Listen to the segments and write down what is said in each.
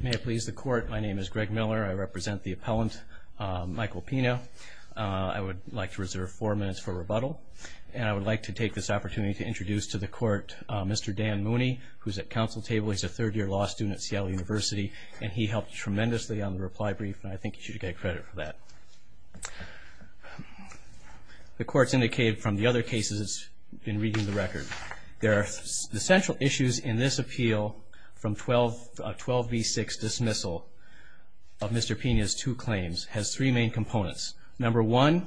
May it please the court, my name is Greg Miller. I represent the appellant Michael Pina. I would like to reserve four minutes for rebuttal and I would like to take this opportunity to introduce to the court Mr. Dan Mooney, who's at council table. He's a third year law student at Seattle University and he helped tremendously on the reply brief and I think you should get credit for that. The court's indicated from the other cases it's been reading the record. The central issues in this appeal from 12 v. 6 dismissal of Mr. Pina's two claims has three main components. Number one,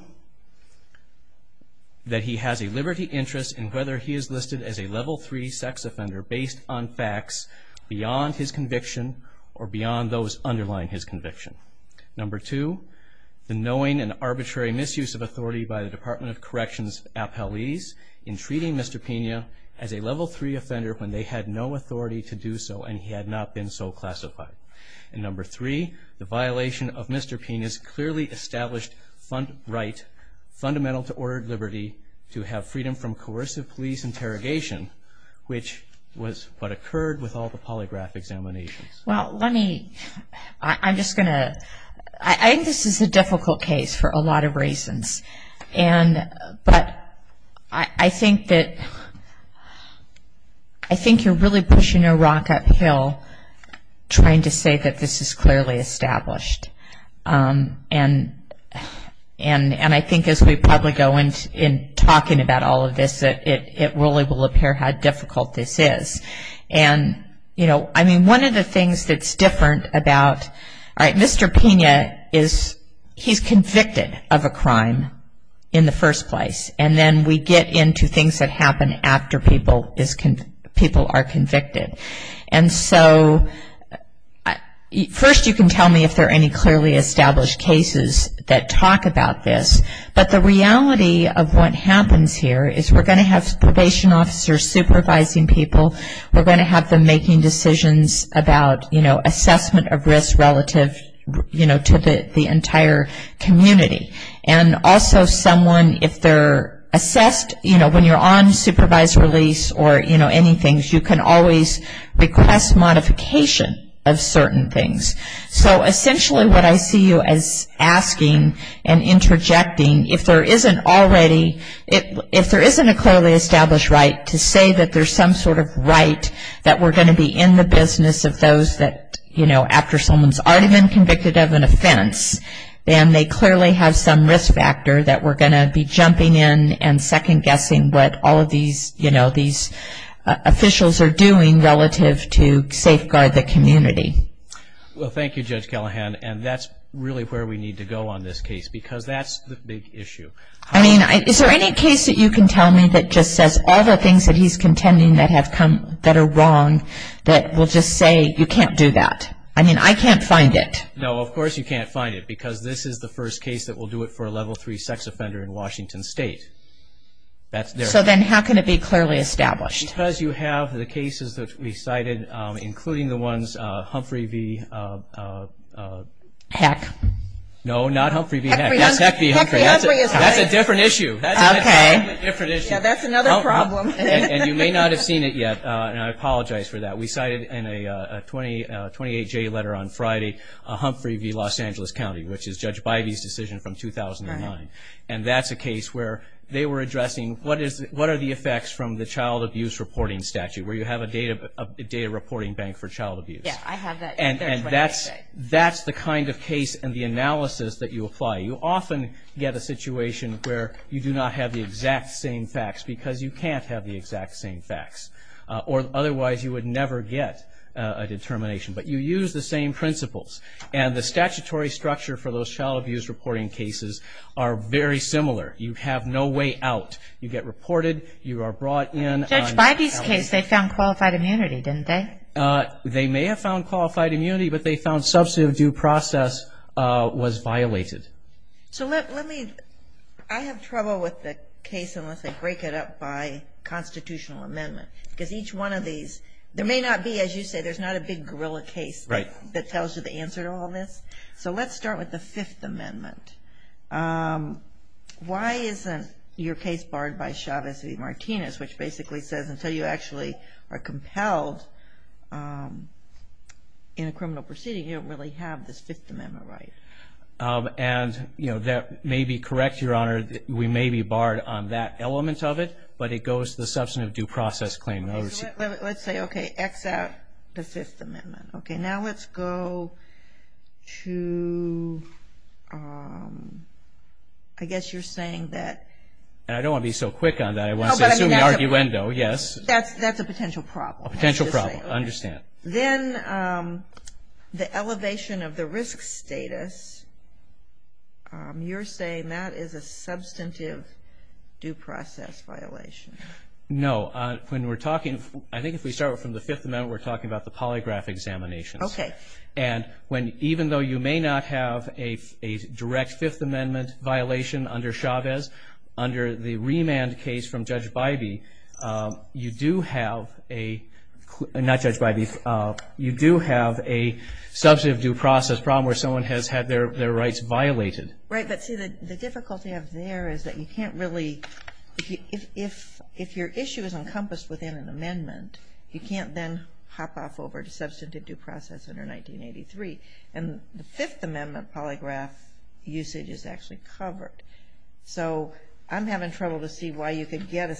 that he has a liberty interest in whether he is listed as a level three sex offender based on facts beyond his conviction or beyond those underlying his conviction. Number two, the knowing and arbitrary misuse of authority by the Department of Corrections appellees in treating Mr. Pina as a level three offender when they had no authority to do so and he had not been so classified. And number three, the violation of Mr. Pina's clearly established right fundamental to ordered liberty to have freedom from coercive police interrogation, which was what occurred with all the polygraph examinations. Well, let me, I'm just going to, I think this is a difficult case for a lot of reasons. But I think that I think you're really pushing a rock uphill trying to say that this is clearly established. And I think as we probably go into talking about all of this that it really will appear how difficult this is. And, you know, I mean, one of the things that's different about, all right, Mr. Pina is, he's convicted of a crime in the first place. And then we get into things that happen after people are convicted. And so first you can tell me if there are any clearly established cases that talk about this. But the reality of what happens here is we're going to have probation officers supervising people. We're going to have them making decisions about, you know, assessment of risk relative, you know, to the entire community. And also someone, if they're assessed, you know, when you're on supervised release or, you know, anything, you can always request modification of interjecting if there isn't already, if there isn't a clearly established right to say that there's some sort of right that we're going to be in the business of those that, you know, after someone's already been convicted of an offense, then they clearly have some risk factor that we're going to be jumping in and second guessing what all of these, you know, Well, thank you, Judge Callahan. And that's really where we need to go on this case because that's the big issue. I mean, is there any case that you can tell me that just says all the things that he's contending that have come, that are wrong, that will just say you can't do that? I mean, I can't find it. No, of course you can't find it because this is the first case that will do it for a level three sex offender in Washington State. So then how can it be clearly established? Because you have the cases that we cited, including the ones, Humphrey v. Heck. No, not Humphrey v. Heck. That's Heck v. Humphrey. That's a different issue. Okay. That's another problem. And you may not have seen it yet, and I apologize for that. We cited in a 28-J letter on Friday, Humphrey v. Los Angeles County, which is Judge Bivey's decision from 2009. And that's a case where they were addressing what are the effects from the child abuse reporting statute, where you have a data reporting bank for child abuse. And that's the kind of case and the analysis that you apply. You often get a situation where you do not have the exact same facts because you can't have the exact same facts, or otherwise you would never get a determination. But you use the same principles. And the statutory structure for those child abuse reporting cases are very similar. You have no way out. You get reported. You are brought in. Judge Bivey's case, they found qualified immunity, didn't they? They may have found qualified immunity, but they found substantive due process was violated. So let me, I have trouble with the case unless I break it up by constitutional amendment. Because each one of these, there may not be, as you say, there's not a big gorilla case that tells you the answer to all this. So let's start with the Fifth Amendment. Why isn't your case barred by Chavez v. Martinez, which basically says until you actually are compelled in a criminal proceeding, you don't really have this Fifth Amendment right? And that may be correct, Your Honor. We may be barred on that element of it. But it goes to the substantive due process claim. Let's say, okay, except the Fifth Amendment. Now let's go to, I guess you're saying that... I don't want to be so quick on that. I want to assume the arguendo, yes. That's a potential problem. A potential problem, I understand. Then the elevation of the risk status, you're saying that is a substantive due process violation. No. When we're talking, I think if we start from the Fifth Amendment, we're talking about the polygraph examinations. Okay. And when, even though you may not have a direct Fifth Amendment violation under Chavez, under the remand case from Judge Bybee, you do have a... Not Judge Bybee. You do have a substantive due process problem where someone has had their rights violated. Right. But see, the difficulty up there is that you can't really... If your issue is encompassed within an amendment, you can't then hop off over to substantive due process under 1983. And the Fifth Amendment polygraph usage is actually covered. So I'm having trouble to see why you could get a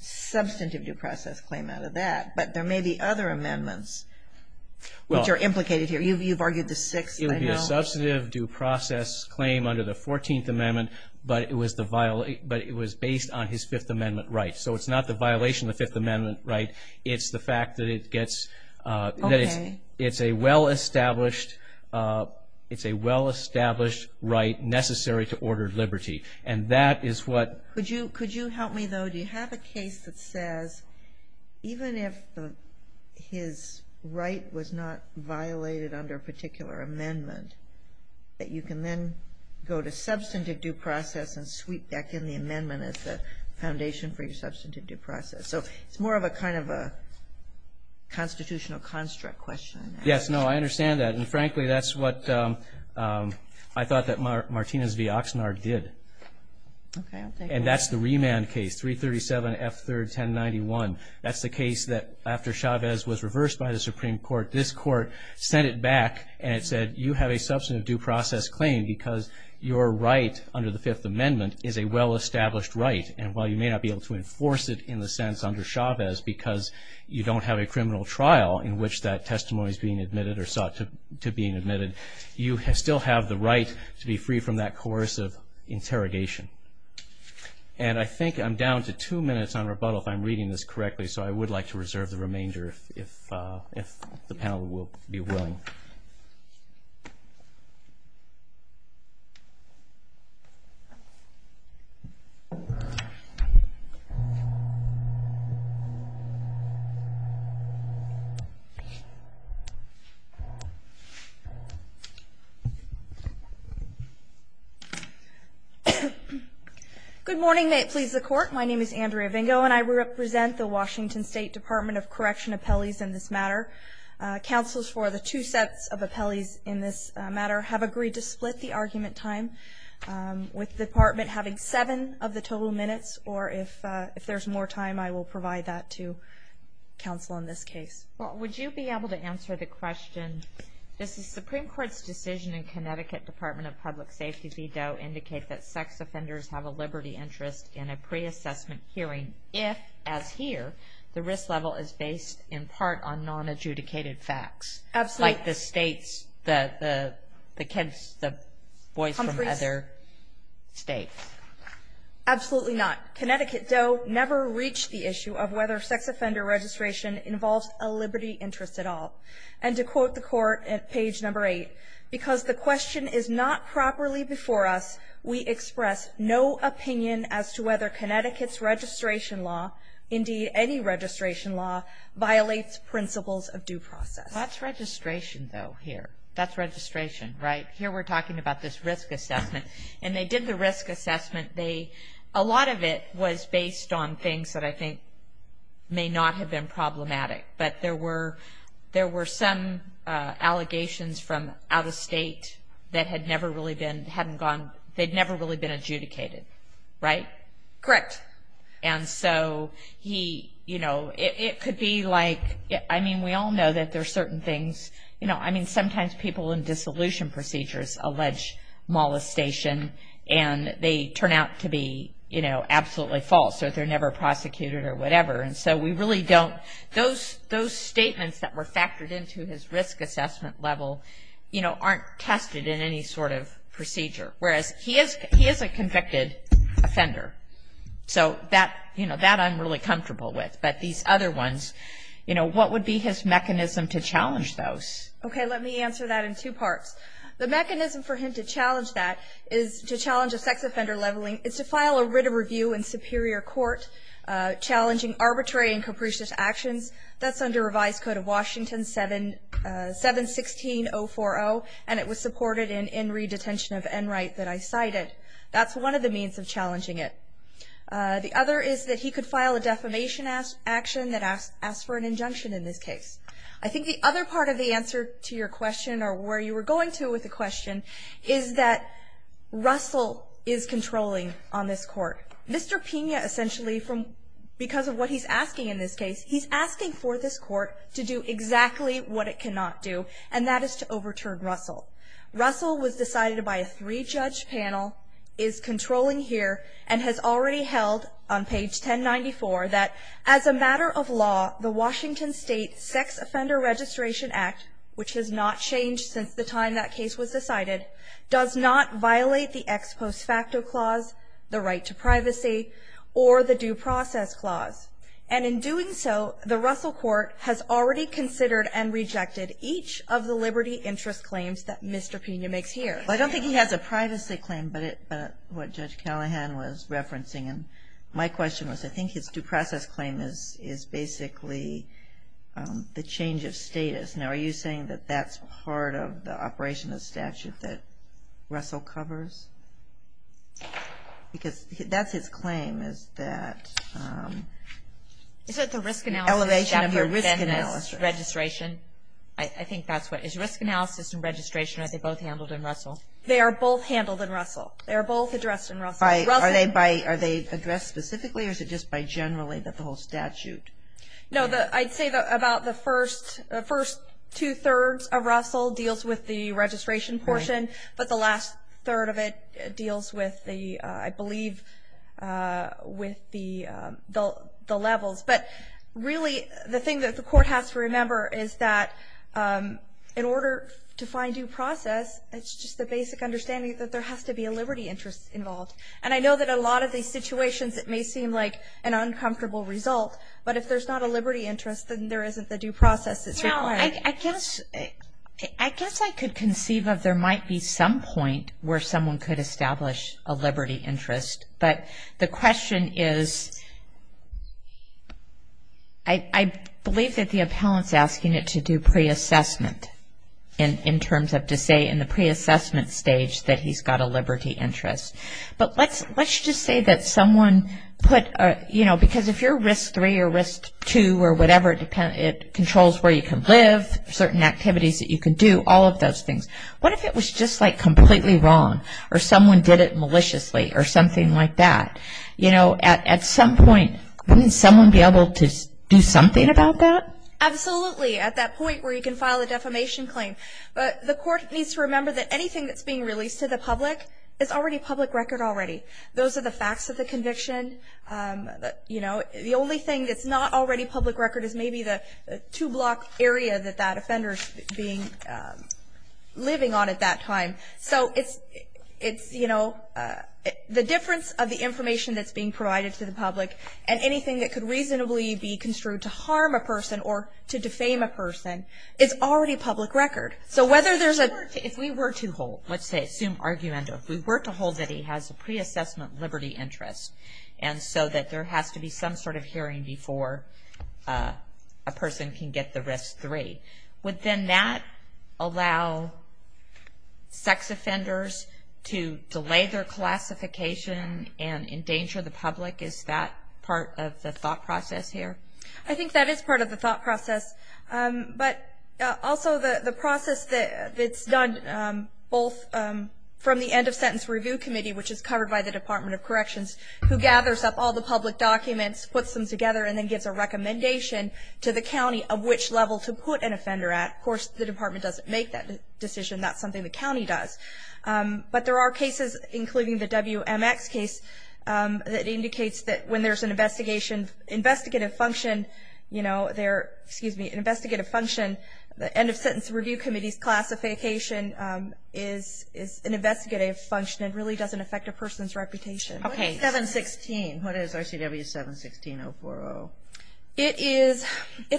substantive due process claim out of that. But there may be other amendments which are implicated here. You've argued the sixth, I know. It would be a substantive due process claim under the Fourteenth Amendment, but it was based on his Fifth Amendment rights. So it's not the violation of the Fifth Amendment right. It's the fact that it gets... Okay. It's a well-established right necessary to order liberty. And that is what... Could you help me, though? So do you have a case that says even if his right was not violated under a particular amendment, that you can then go to substantive due process and sweep back in the amendment as the foundation for your substantive due process? So it's more of a kind of a constitutional construct question. Yes, no, I understand that. And, frankly, that's what I thought that Martinez v. Oxnard did. Okay, I'll take that. And that's the remand case, 337 F. 3rd, 1091. That's the case that after Chavez was reversed by the Supreme Court, this Court sent it back and it said you have a substantive due process claim because your right under the Fifth Amendment is a well-established right. And while you may not be able to enforce it in the sense under Chavez because you don't have a criminal trial in which that testimony is being admitted or sought to being admitted, you still have the right to be free from that coercive interrogation. And I think I'm down to two minutes on rebuttal if I'm reading this correctly, Good morning. May it please the Court. My name is Andrea Vingo, and I represent the Washington State Department of Correction appellees in this matter. Counsels for the two sets of appellees in this matter have agreed to split the argument time with the department having seven of the total minutes, or if there's more time I will provide that to counsel in this case. Well, would you be able to answer the question, does the Supreme Court's decision in Connecticut Department of Public Safety v. Doe indicate that sex offenders have a liberty interest in a pre-assessment hearing if, as here, the risk level is based in part on non-adjudicated facts? Absolutely. Like the states, the kids, the boys from other states. Absolutely not. Connecticut Doe never reached the issue of whether sex offender registration involves a liberty interest at all. And to quote the Court at page number eight, because the question is not properly before us, we express no opinion as to whether Connecticut's registration law, indeed any registration law, violates principles of due process. That's registration, though, here. That's registration, right? Here we're talking about this risk assessment. And they did the risk assessment. A lot of it was based on things that I think may not have been problematic, but there were some allegations from out of state that had never really been adjudicated, right? Correct. And so it could be like, I mean, we all know that there are certain things, I mean sometimes people in dissolution procedures allege molestation and they turn out to be absolutely false or they're never prosecuted or whatever. And so we really don't, those statements that were factored into his risk assessment level, you know, aren't tested in any sort of procedure. Whereas he is a convicted offender. So that, you know, that I'm really comfortable with. But these other ones, you know, what would be his mechanism to challenge those? Okay, let me answer that in two parts. The mechanism for him to challenge that is to challenge a sex offender leveling, it's to file a writ of review in superior court challenging arbitrary and capricious actions. That's under revised code of Washington 716-040, and it was supported in in re-detention of Enright that I cited. That's one of the means of challenging it. The other is that he could file a defamation action that asks for an injunction in this case. I think the other part of the answer to your question or where you were going to with the question is that Russell is controlling on this court. Mr. Pena essentially from, because of what he's asking in this case, he's asking for this court to do exactly what it cannot do, and that is to overturn Russell. Russell was decided by a three-judge panel, is controlling here, and has already held on page 1094 that as a matter of law, the Washington State Sex Offender Registration Act, which has not changed since the time that case was decided, does not violate the ex post facto clause, the right to privacy, or the due process clause. And in doing so, the Russell court has already considered and rejected each of the liberty interest claims that Mr. Pena makes here. I don't think he has a privacy claim, but what Judge Callahan was referencing, and my question was I think his due process claim is basically the change of status. Now, are you saying that that's part of the operation of the statute that Russell covers? Because that's his claim is that. Is it the risk analysis? Elevation of your risk analysis. Registration. I think that's what, is risk analysis and registration, are they both handled in Russell? They are both handled in Russell. They are both addressed in Russell. Are they addressed specifically, or is it just by generally that the whole statute? No, I'd say about the first two-thirds of Russell deals with the registration portion, but the last third of it deals with the, I believe, with the levels. But really the thing that the court has to remember is that in order to find due process, it's just the basic understanding that there has to be a liberty interest involved. And I know that in a lot of these situations it may seem like an uncomfortable result, but if there's not a liberty interest, then there isn't the due process that's required. Now, I guess I could conceive of there might be some point where someone could establish a liberty interest, but the question is, I believe that the appellant's asking it to do pre-assessment, in terms of to say in the pre-assessment stage that he's got a liberty interest. But let's just say that someone put, you know, because if you're risk three or risk two or whatever, it controls where you can live, certain activities that you can do, all of those things. What if it was just like completely wrong, or someone did it maliciously, or something like that? You know, at some point, wouldn't someone be able to do something about that? Absolutely, at that point where you can file a defamation claim. But the court needs to remember that anything that's being released to the public is already public record already. Those are the facts of the conviction. You know, the only thing that's not already public record is maybe the two-block area that that offender's living on at that time. So it's, you know, the difference of the information that's being provided to the public and anything that could reasonably be construed to harm a person or to defame a person, it's already public record. So whether there's a- If we were to hold, let's say, assume argument, if we were to hold that he has a pre-assessment liberty interest, and so that there has to be some sort of hearing before a person can get the risk three, would then that allow sex offenders to delay their classification and endanger the public? Is that part of the thought process here? I think that is part of the thought process. But also the process that's done both from the end-of-sentence review committee, which is covered by the Department of Corrections, who gathers up all the public documents, puts them together, and then gives a recommendation to the county of which level to put an offender at. Of course, the department doesn't make that decision. That's something the county does. But there are cases, including the WMX case, that indicates that when there's an investigative function, you know, there-excuse me-an investigative function, the end-of-sentence review committee's classification is an investigative function. It really doesn't affect a person's reputation. Okay. What is 716? What is RCW 716.040? It is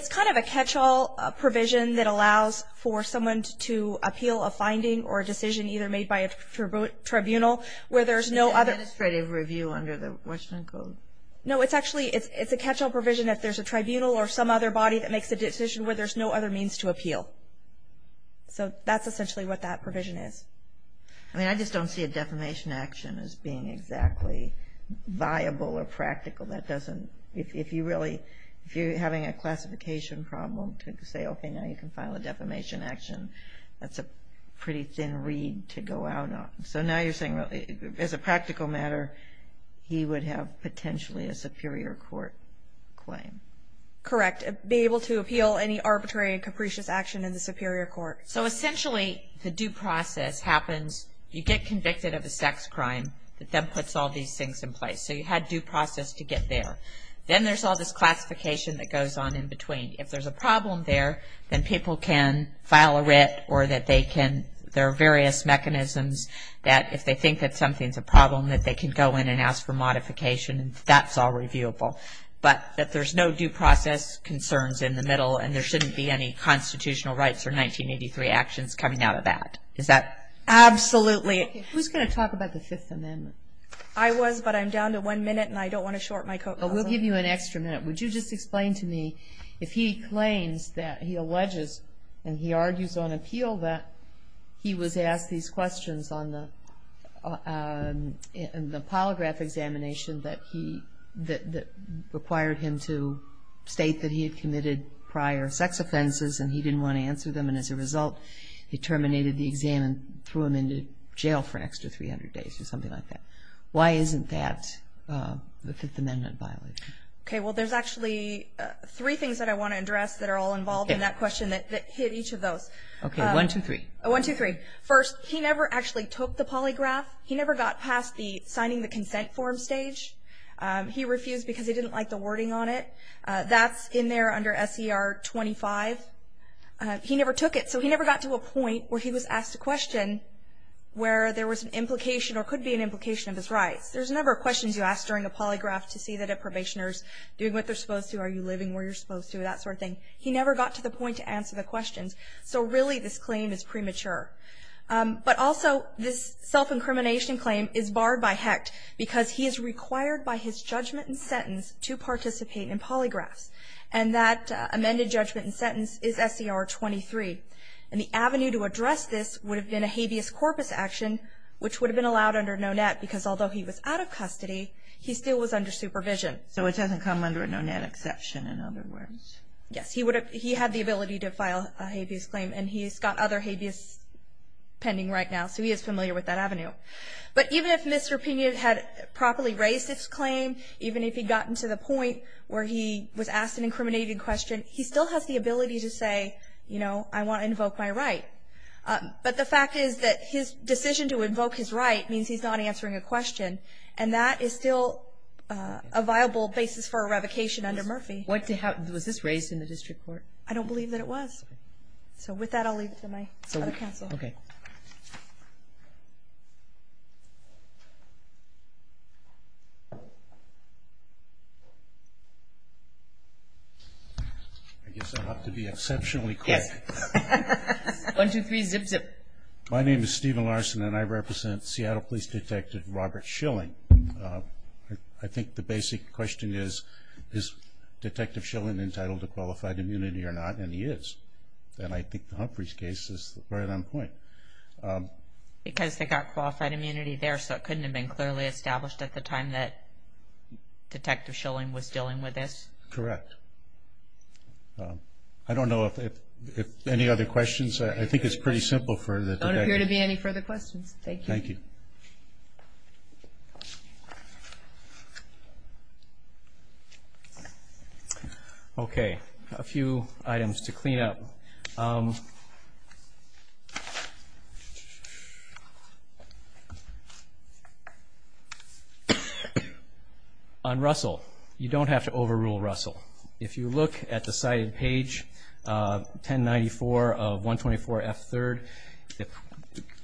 kind of a catch-all provision that allows for someone to appeal a finding or a decision either made by a tribunal where there's no other- Is it administrative review under the Washington Code? No, it's actually-it's a catch-all provision. If there's a tribunal or some other body that makes a decision where there's no other means to appeal. So that's essentially what that provision is. I mean, I just don't see a defamation action as being exactly viable or practical. That doesn't-if you really-if you're having a classification problem to say, okay, now you can file a defamation action, that's a pretty thin reed to go out on. So now you're saying, as a practical matter, he would have potentially a superior court claim. Correct. Be able to appeal any arbitrary and capricious action in the superior court. So essentially, the due process happens, you get convicted of a sex crime, that then puts all these things in place. So you had due process to get there. Then there's all this classification that goes on in between. If there's a problem there, then people can file a writ or that they can- that if they think that something's a problem, that they can go in and ask for modification. That's all reviewable. But that there's no due process concerns in the middle, and there shouldn't be any constitutional rights or 1983 actions coming out of that. Is that- Absolutely. Who's going to talk about the Fifth Amendment? I was, but I'm down to one minute, and I don't want to short my- We'll give you an extra minute. Would you just explain to me if he claims that he alleges, and he argues on appeal, that he was asked these questions on the polygraph examination that he- that required him to state that he had committed prior sex offenses, and he didn't want to answer them. And as a result, he terminated the exam and threw him into jail for an extra 300 days, or something like that. Why isn't that the Fifth Amendment violation? Okay, well, there's actually three things that I want to address that are all involved in that question that hit each of those. Okay, one, two, three. One, two, three. First, he never actually took the polygraph. He never got past the signing the consent form stage. He refused because he didn't like the wording on it. That's in there under S.E.R. 25. He never took it, so he never got to a point where he was asked a question where there was an implication or could be an implication of his rights. There's a number of questions you ask during a polygraph to see that a probationer is doing what they're supposed to, are you living where you're supposed to, that sort of thing. He never got to the point to answer the questions. So, really, this claim is premature. But also, this self-incrimination claim is barred by HECT because he is required by his judgment and sentence to participate in polygraphs. And that amended judgment and sentence is S.E.R. 23. And the avenue to address this would have been a habeas corpus action, which would have been allowed under NONET because, although he was out of custody, he still was under supervision. So it doesn't come under a NONET exception, in other words. Yes, he had the ability to file a habeas claim, and he's got other habeas pending right now. So he is familiar with that avenue. But even if Mr. Pinion had properly raised his claim, even if he'd gotten to the point where he was asked an incriminating question, he still has the ability to say, you know, I want to invoke my right. But the fact is that his decision to invoke his right means he's not answering a question, and that is still a viable basis for a revocation under Murphy. Was this raised in the district court? I don't believe that it was. So with that, I'll leave it to my other counsel. Okay. I guess I have to be exceptionally quick. Yes. One, two, three, zip, zip. My name is Stephen Larson, and I represent Seattle Police Detective Robert Schilling. I think the basic question is, is Detective Schilling entitled to qualified immunity or not? And he is. And I think Humphrey's case is right on point. Because they got qualified immunity there, so it couldn't have been clearly established at the time that Detective Schilling was dealing with this? Correct. I don't know if any other questions. There don't appear to be any further questions. Thank you. Thank you. Okay. A few items to clean up. On Russell, you don't have to overrule Russell. If you look at the cited page, 1094 of 124F3rd,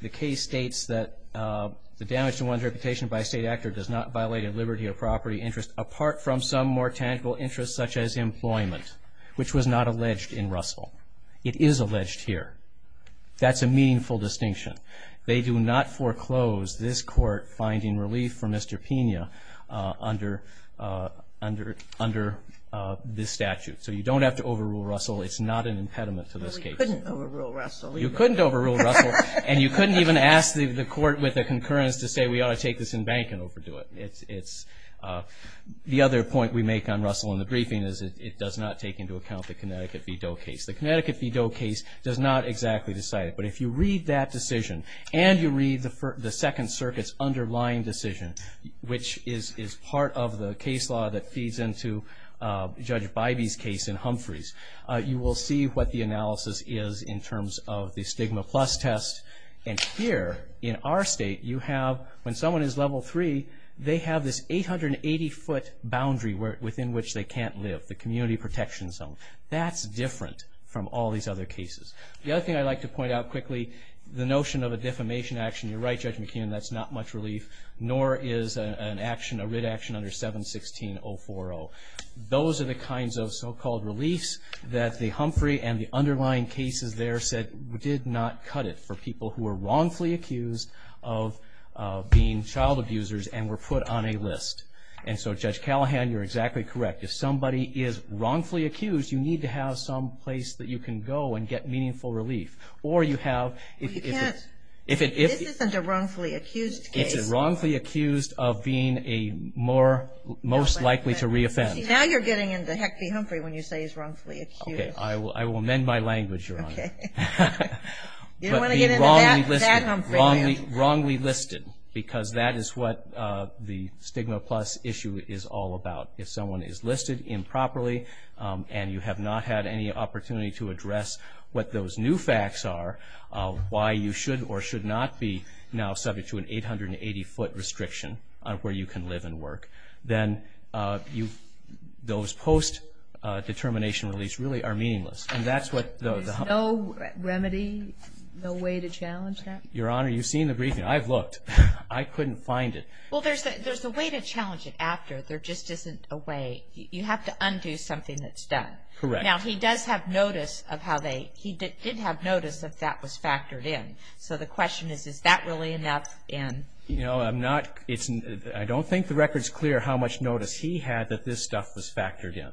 the case states that the damage to one's reputation by a state actor does not violate a liberty or property interest, apart from some more tangible interests such as employment, which was not alleged in Russell. It is alleged here. That's a meaningful distinction. They do not foreclose this court finding relief for Mr. Pena under this statute. So you don't have to overrule Russell. It's not an impediment to this case. Well, you couldn't overrule Russell. You couldn't overrule Russell. And you couldn't even ask the court with a concurrence to say, we ought to take this in bank and overdo it. The other point we make on Russell in the briefing is it does not take into account the Connecticut v. Doe case. The Connecticut v. Doe case does not exactly decide it. But if you read that decision and you read the Second Circuit's underlying decision, which is part of the case law that feeds into Judge Bybee's case in Humphreys, you will see what the analysis is in terms of the stigma plus test. And here in our state, you have when someone is level three, they have this 880-foot boundary within which they can't live, the community protection zone. That's different from all these other cases. The other thing I'd like to point out quickly, the notion of a defamation action. You're right, Judge McKeon, that's not much relief, nor is a writ action under 716-040. Those are the kinds of so-called reliefs that the Humphrey and the underlying cases there did not cut it for people who were wrongfully accused of being child abusers and were put on a list. And so, Judge Callahan, you're exactly correct. If somebody is wrongfully accused, you need to have some place that you can go and get meaningful relief. This isn't a wrongfully accused case. It's a wrongfully accused of being a most likely to reoffend. Now you're getting into heck be Humphrey when you say he's wrongfully accused. Okay, I will mend my language, Your Honor. Okay. You don't want to get into that Humphrey. Wrongly listed, because that is what the stigma plus issue is all about. If someone is listed improperly and you have not had any opportunity to address what those new facts are, why you should or should not be now subject to an 880-foot restriction where you can live and work, then those post-determination reliefs really are meaningless. There's no remedy, no way to challenge that? Your Honor, you've seen the briefing. I've looked. I couldn't find it. Well, there's a way to challenge it after. There just isn't a way. You have to undo something that's done. Correct. Now he does have notice of how they he did have notice that that was factored in. So the question is, is that really enough? No, I'm not. I don't think the record's clear how much notice he had that this stuff was factored in.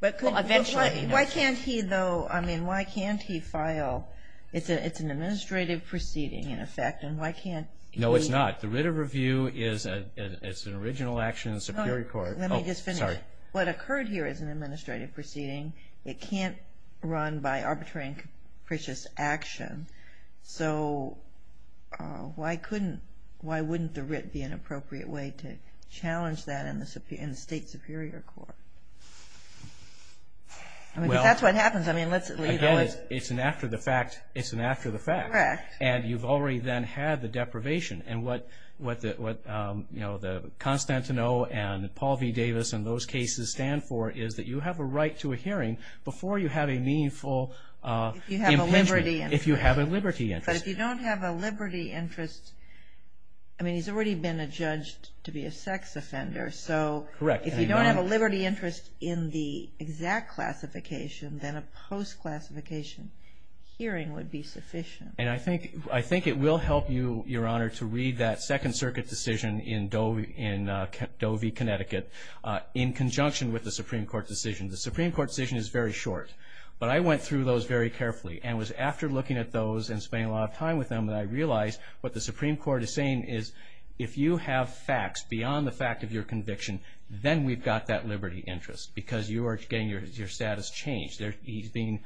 Why can't he, though? I mean, why can't he file? It's an administrative proceeding, in effect, and why can't he? No, it's not. The writ of review is an original action in the Superior Court. Let me just finish. What occurred here is an administrative proceeding. It can't run by arbitrary and capricious action. So why wouldn't the writ be an appropriate way to challenge that in the State Superior Court? I mean, if that's what happens, I mean, let's leave it. It's an after the fact. It's an after the fact. Correct. And you've already then had the deprivation. And what the Constantino and Paul v. Davis and those cases stand for is that you have a right to a hearing before you have a meaningful impingement. If you have a liberty interest. If you have a liberty interest. But if you don't have a liberty interest, I mean, he's already been adjudged to be a sex offender. Correct. So if you don't have a liberty interest in the exact classification, then a post-classification hearing would be sufficient. And I think it will help you, Your Honor, to read that Second Circuit decision in Dovey, Connecticut, in conjunction with the Supreme Court decision. The Supreme Court decision is very short, but I went through those very carefully and it was after looking at those and spending a lot of time with them that I realized what the Supreme Court is saying is if you have facts beyond the fact of your conviction, then we've got that liberty interest because you are getting your status changed. He's being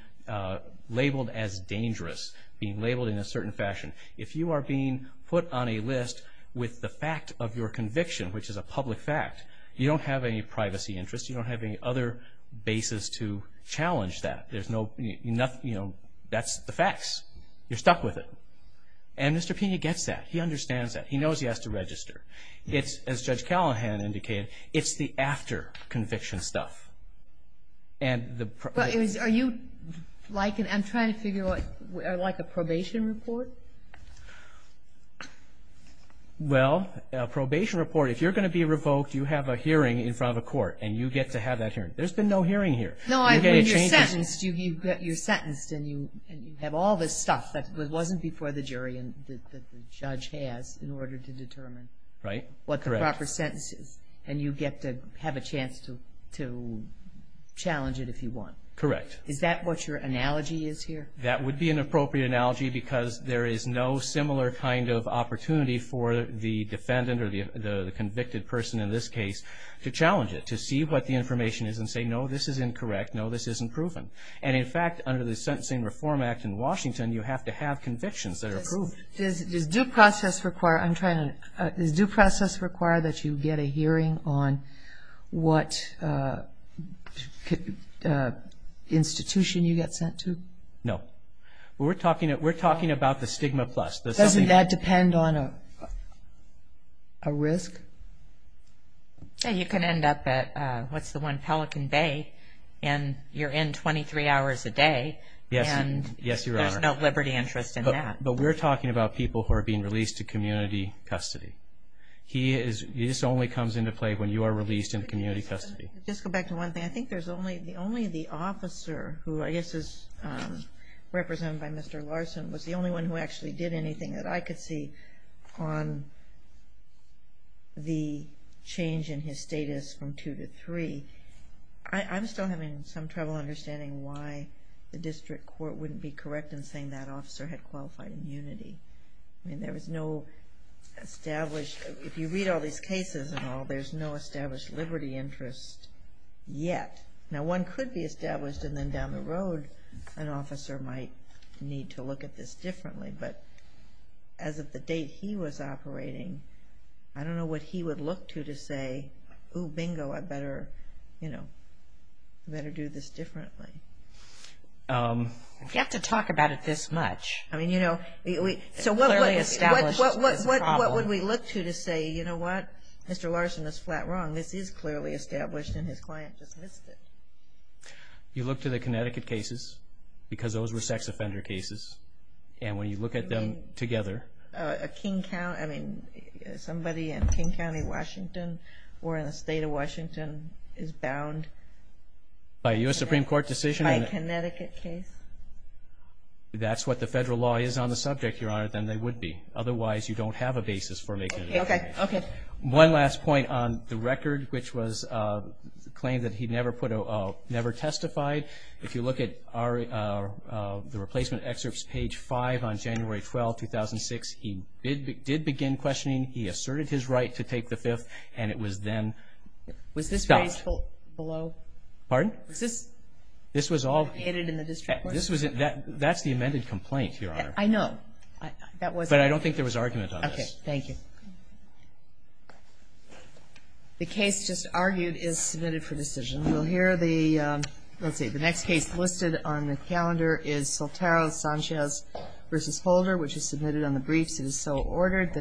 labeled as dangerous, being labeled in a certain fashion. If you are being put on a list with the fact of your conviction, which is a public fact, you don't have any privacy interests. You don't have any other basis to challenge that. That's the facts. You're stuck with it. And Mr. Pena gets that. He understands that. He knows he has to register. As Judge Callahan indicated, it's the after conviction stuff. Are you like, I'm trying to figure out, like a probation report? Well, a probation report, if you're going to be revoked, you have a hearing in front of a court and you get to have that hearing. There's been no hearing here. No, you're sentenced and you have all this stuff that wasn't before the jury and that the judge has in order to determine what the proper sentence is and you get to have a chance to challenge it if you want. Correct. Is that what your analogy is here? That would be an appropriate analogy because there is no similar kind of opportunity for the defendant or the convicted person in this case to challenge it, to see what the information is and say, no, this is incorrect. No, this isn't proven. And in fact, under the Sentencing Reform Act in Washington, you have to have convictions that are proven. Does due process require that you get a hearing on what institution you get sent to? No. We're talking about the stigma plus. Doesn't that depend on a risk? You can end up at, what's the one, Pelican Bay, and you're in 23 hours a day. Yes, Your Honor. And there's no liberty interest in that. But we're talking about people who are being released to community custody. This only comes into play when you are released in community custody. Just go back to one thing. I think there's only the officer who I guess is represented by Mr. Larson was the only one who actually did anything that I could see on the change in his status from two to three. I'm still having some trouble understanding why the district court wouldn't be correct in saying that officer had qualified immunity. I mean, there was no established, if you read all these cases and all, there's no established liberty interest yet. Now, one could be established and then down the road an officer might need to look at this differently. But as of the date he was operating, I don't know what he would look to to say, ooh, bingo, I better do this differently. You have to talk about it this much. I mean, you know, so what would we look to to say, you know what? Mr. Larson is flat wrong. This is clearly established and his client dismissed it. You look to the Connecticut cases because those were sex offender cases, and when you look at them together. I mean, somebody in King County, Washington, or in the state of Washington is bound. By a U.S. Supreme Court decision? By a Connecticut case. If that's what the federal law is on the subject, Your Honor, then they would be. Otherwise, you don't have a basis for making a decision. Okay. One last point on the record, which was the claim that he never testified. If you look at the replacement excerpts, page 5 on January 12, 2006, he did begin questioning. He asserted his right to take the fifth, and it was then stopped. Was this raised below? Pardon? Was this located in the district court? That's the amended complaint, Your Honor. I know. But I don't think there was argument on this. Okay. Thank you. The case just argued is submitted for decision. You'll hear the next case listed on the calendar is Sotaro Sanchez v. Holder, which is submitted on the briefs. It is so ordered.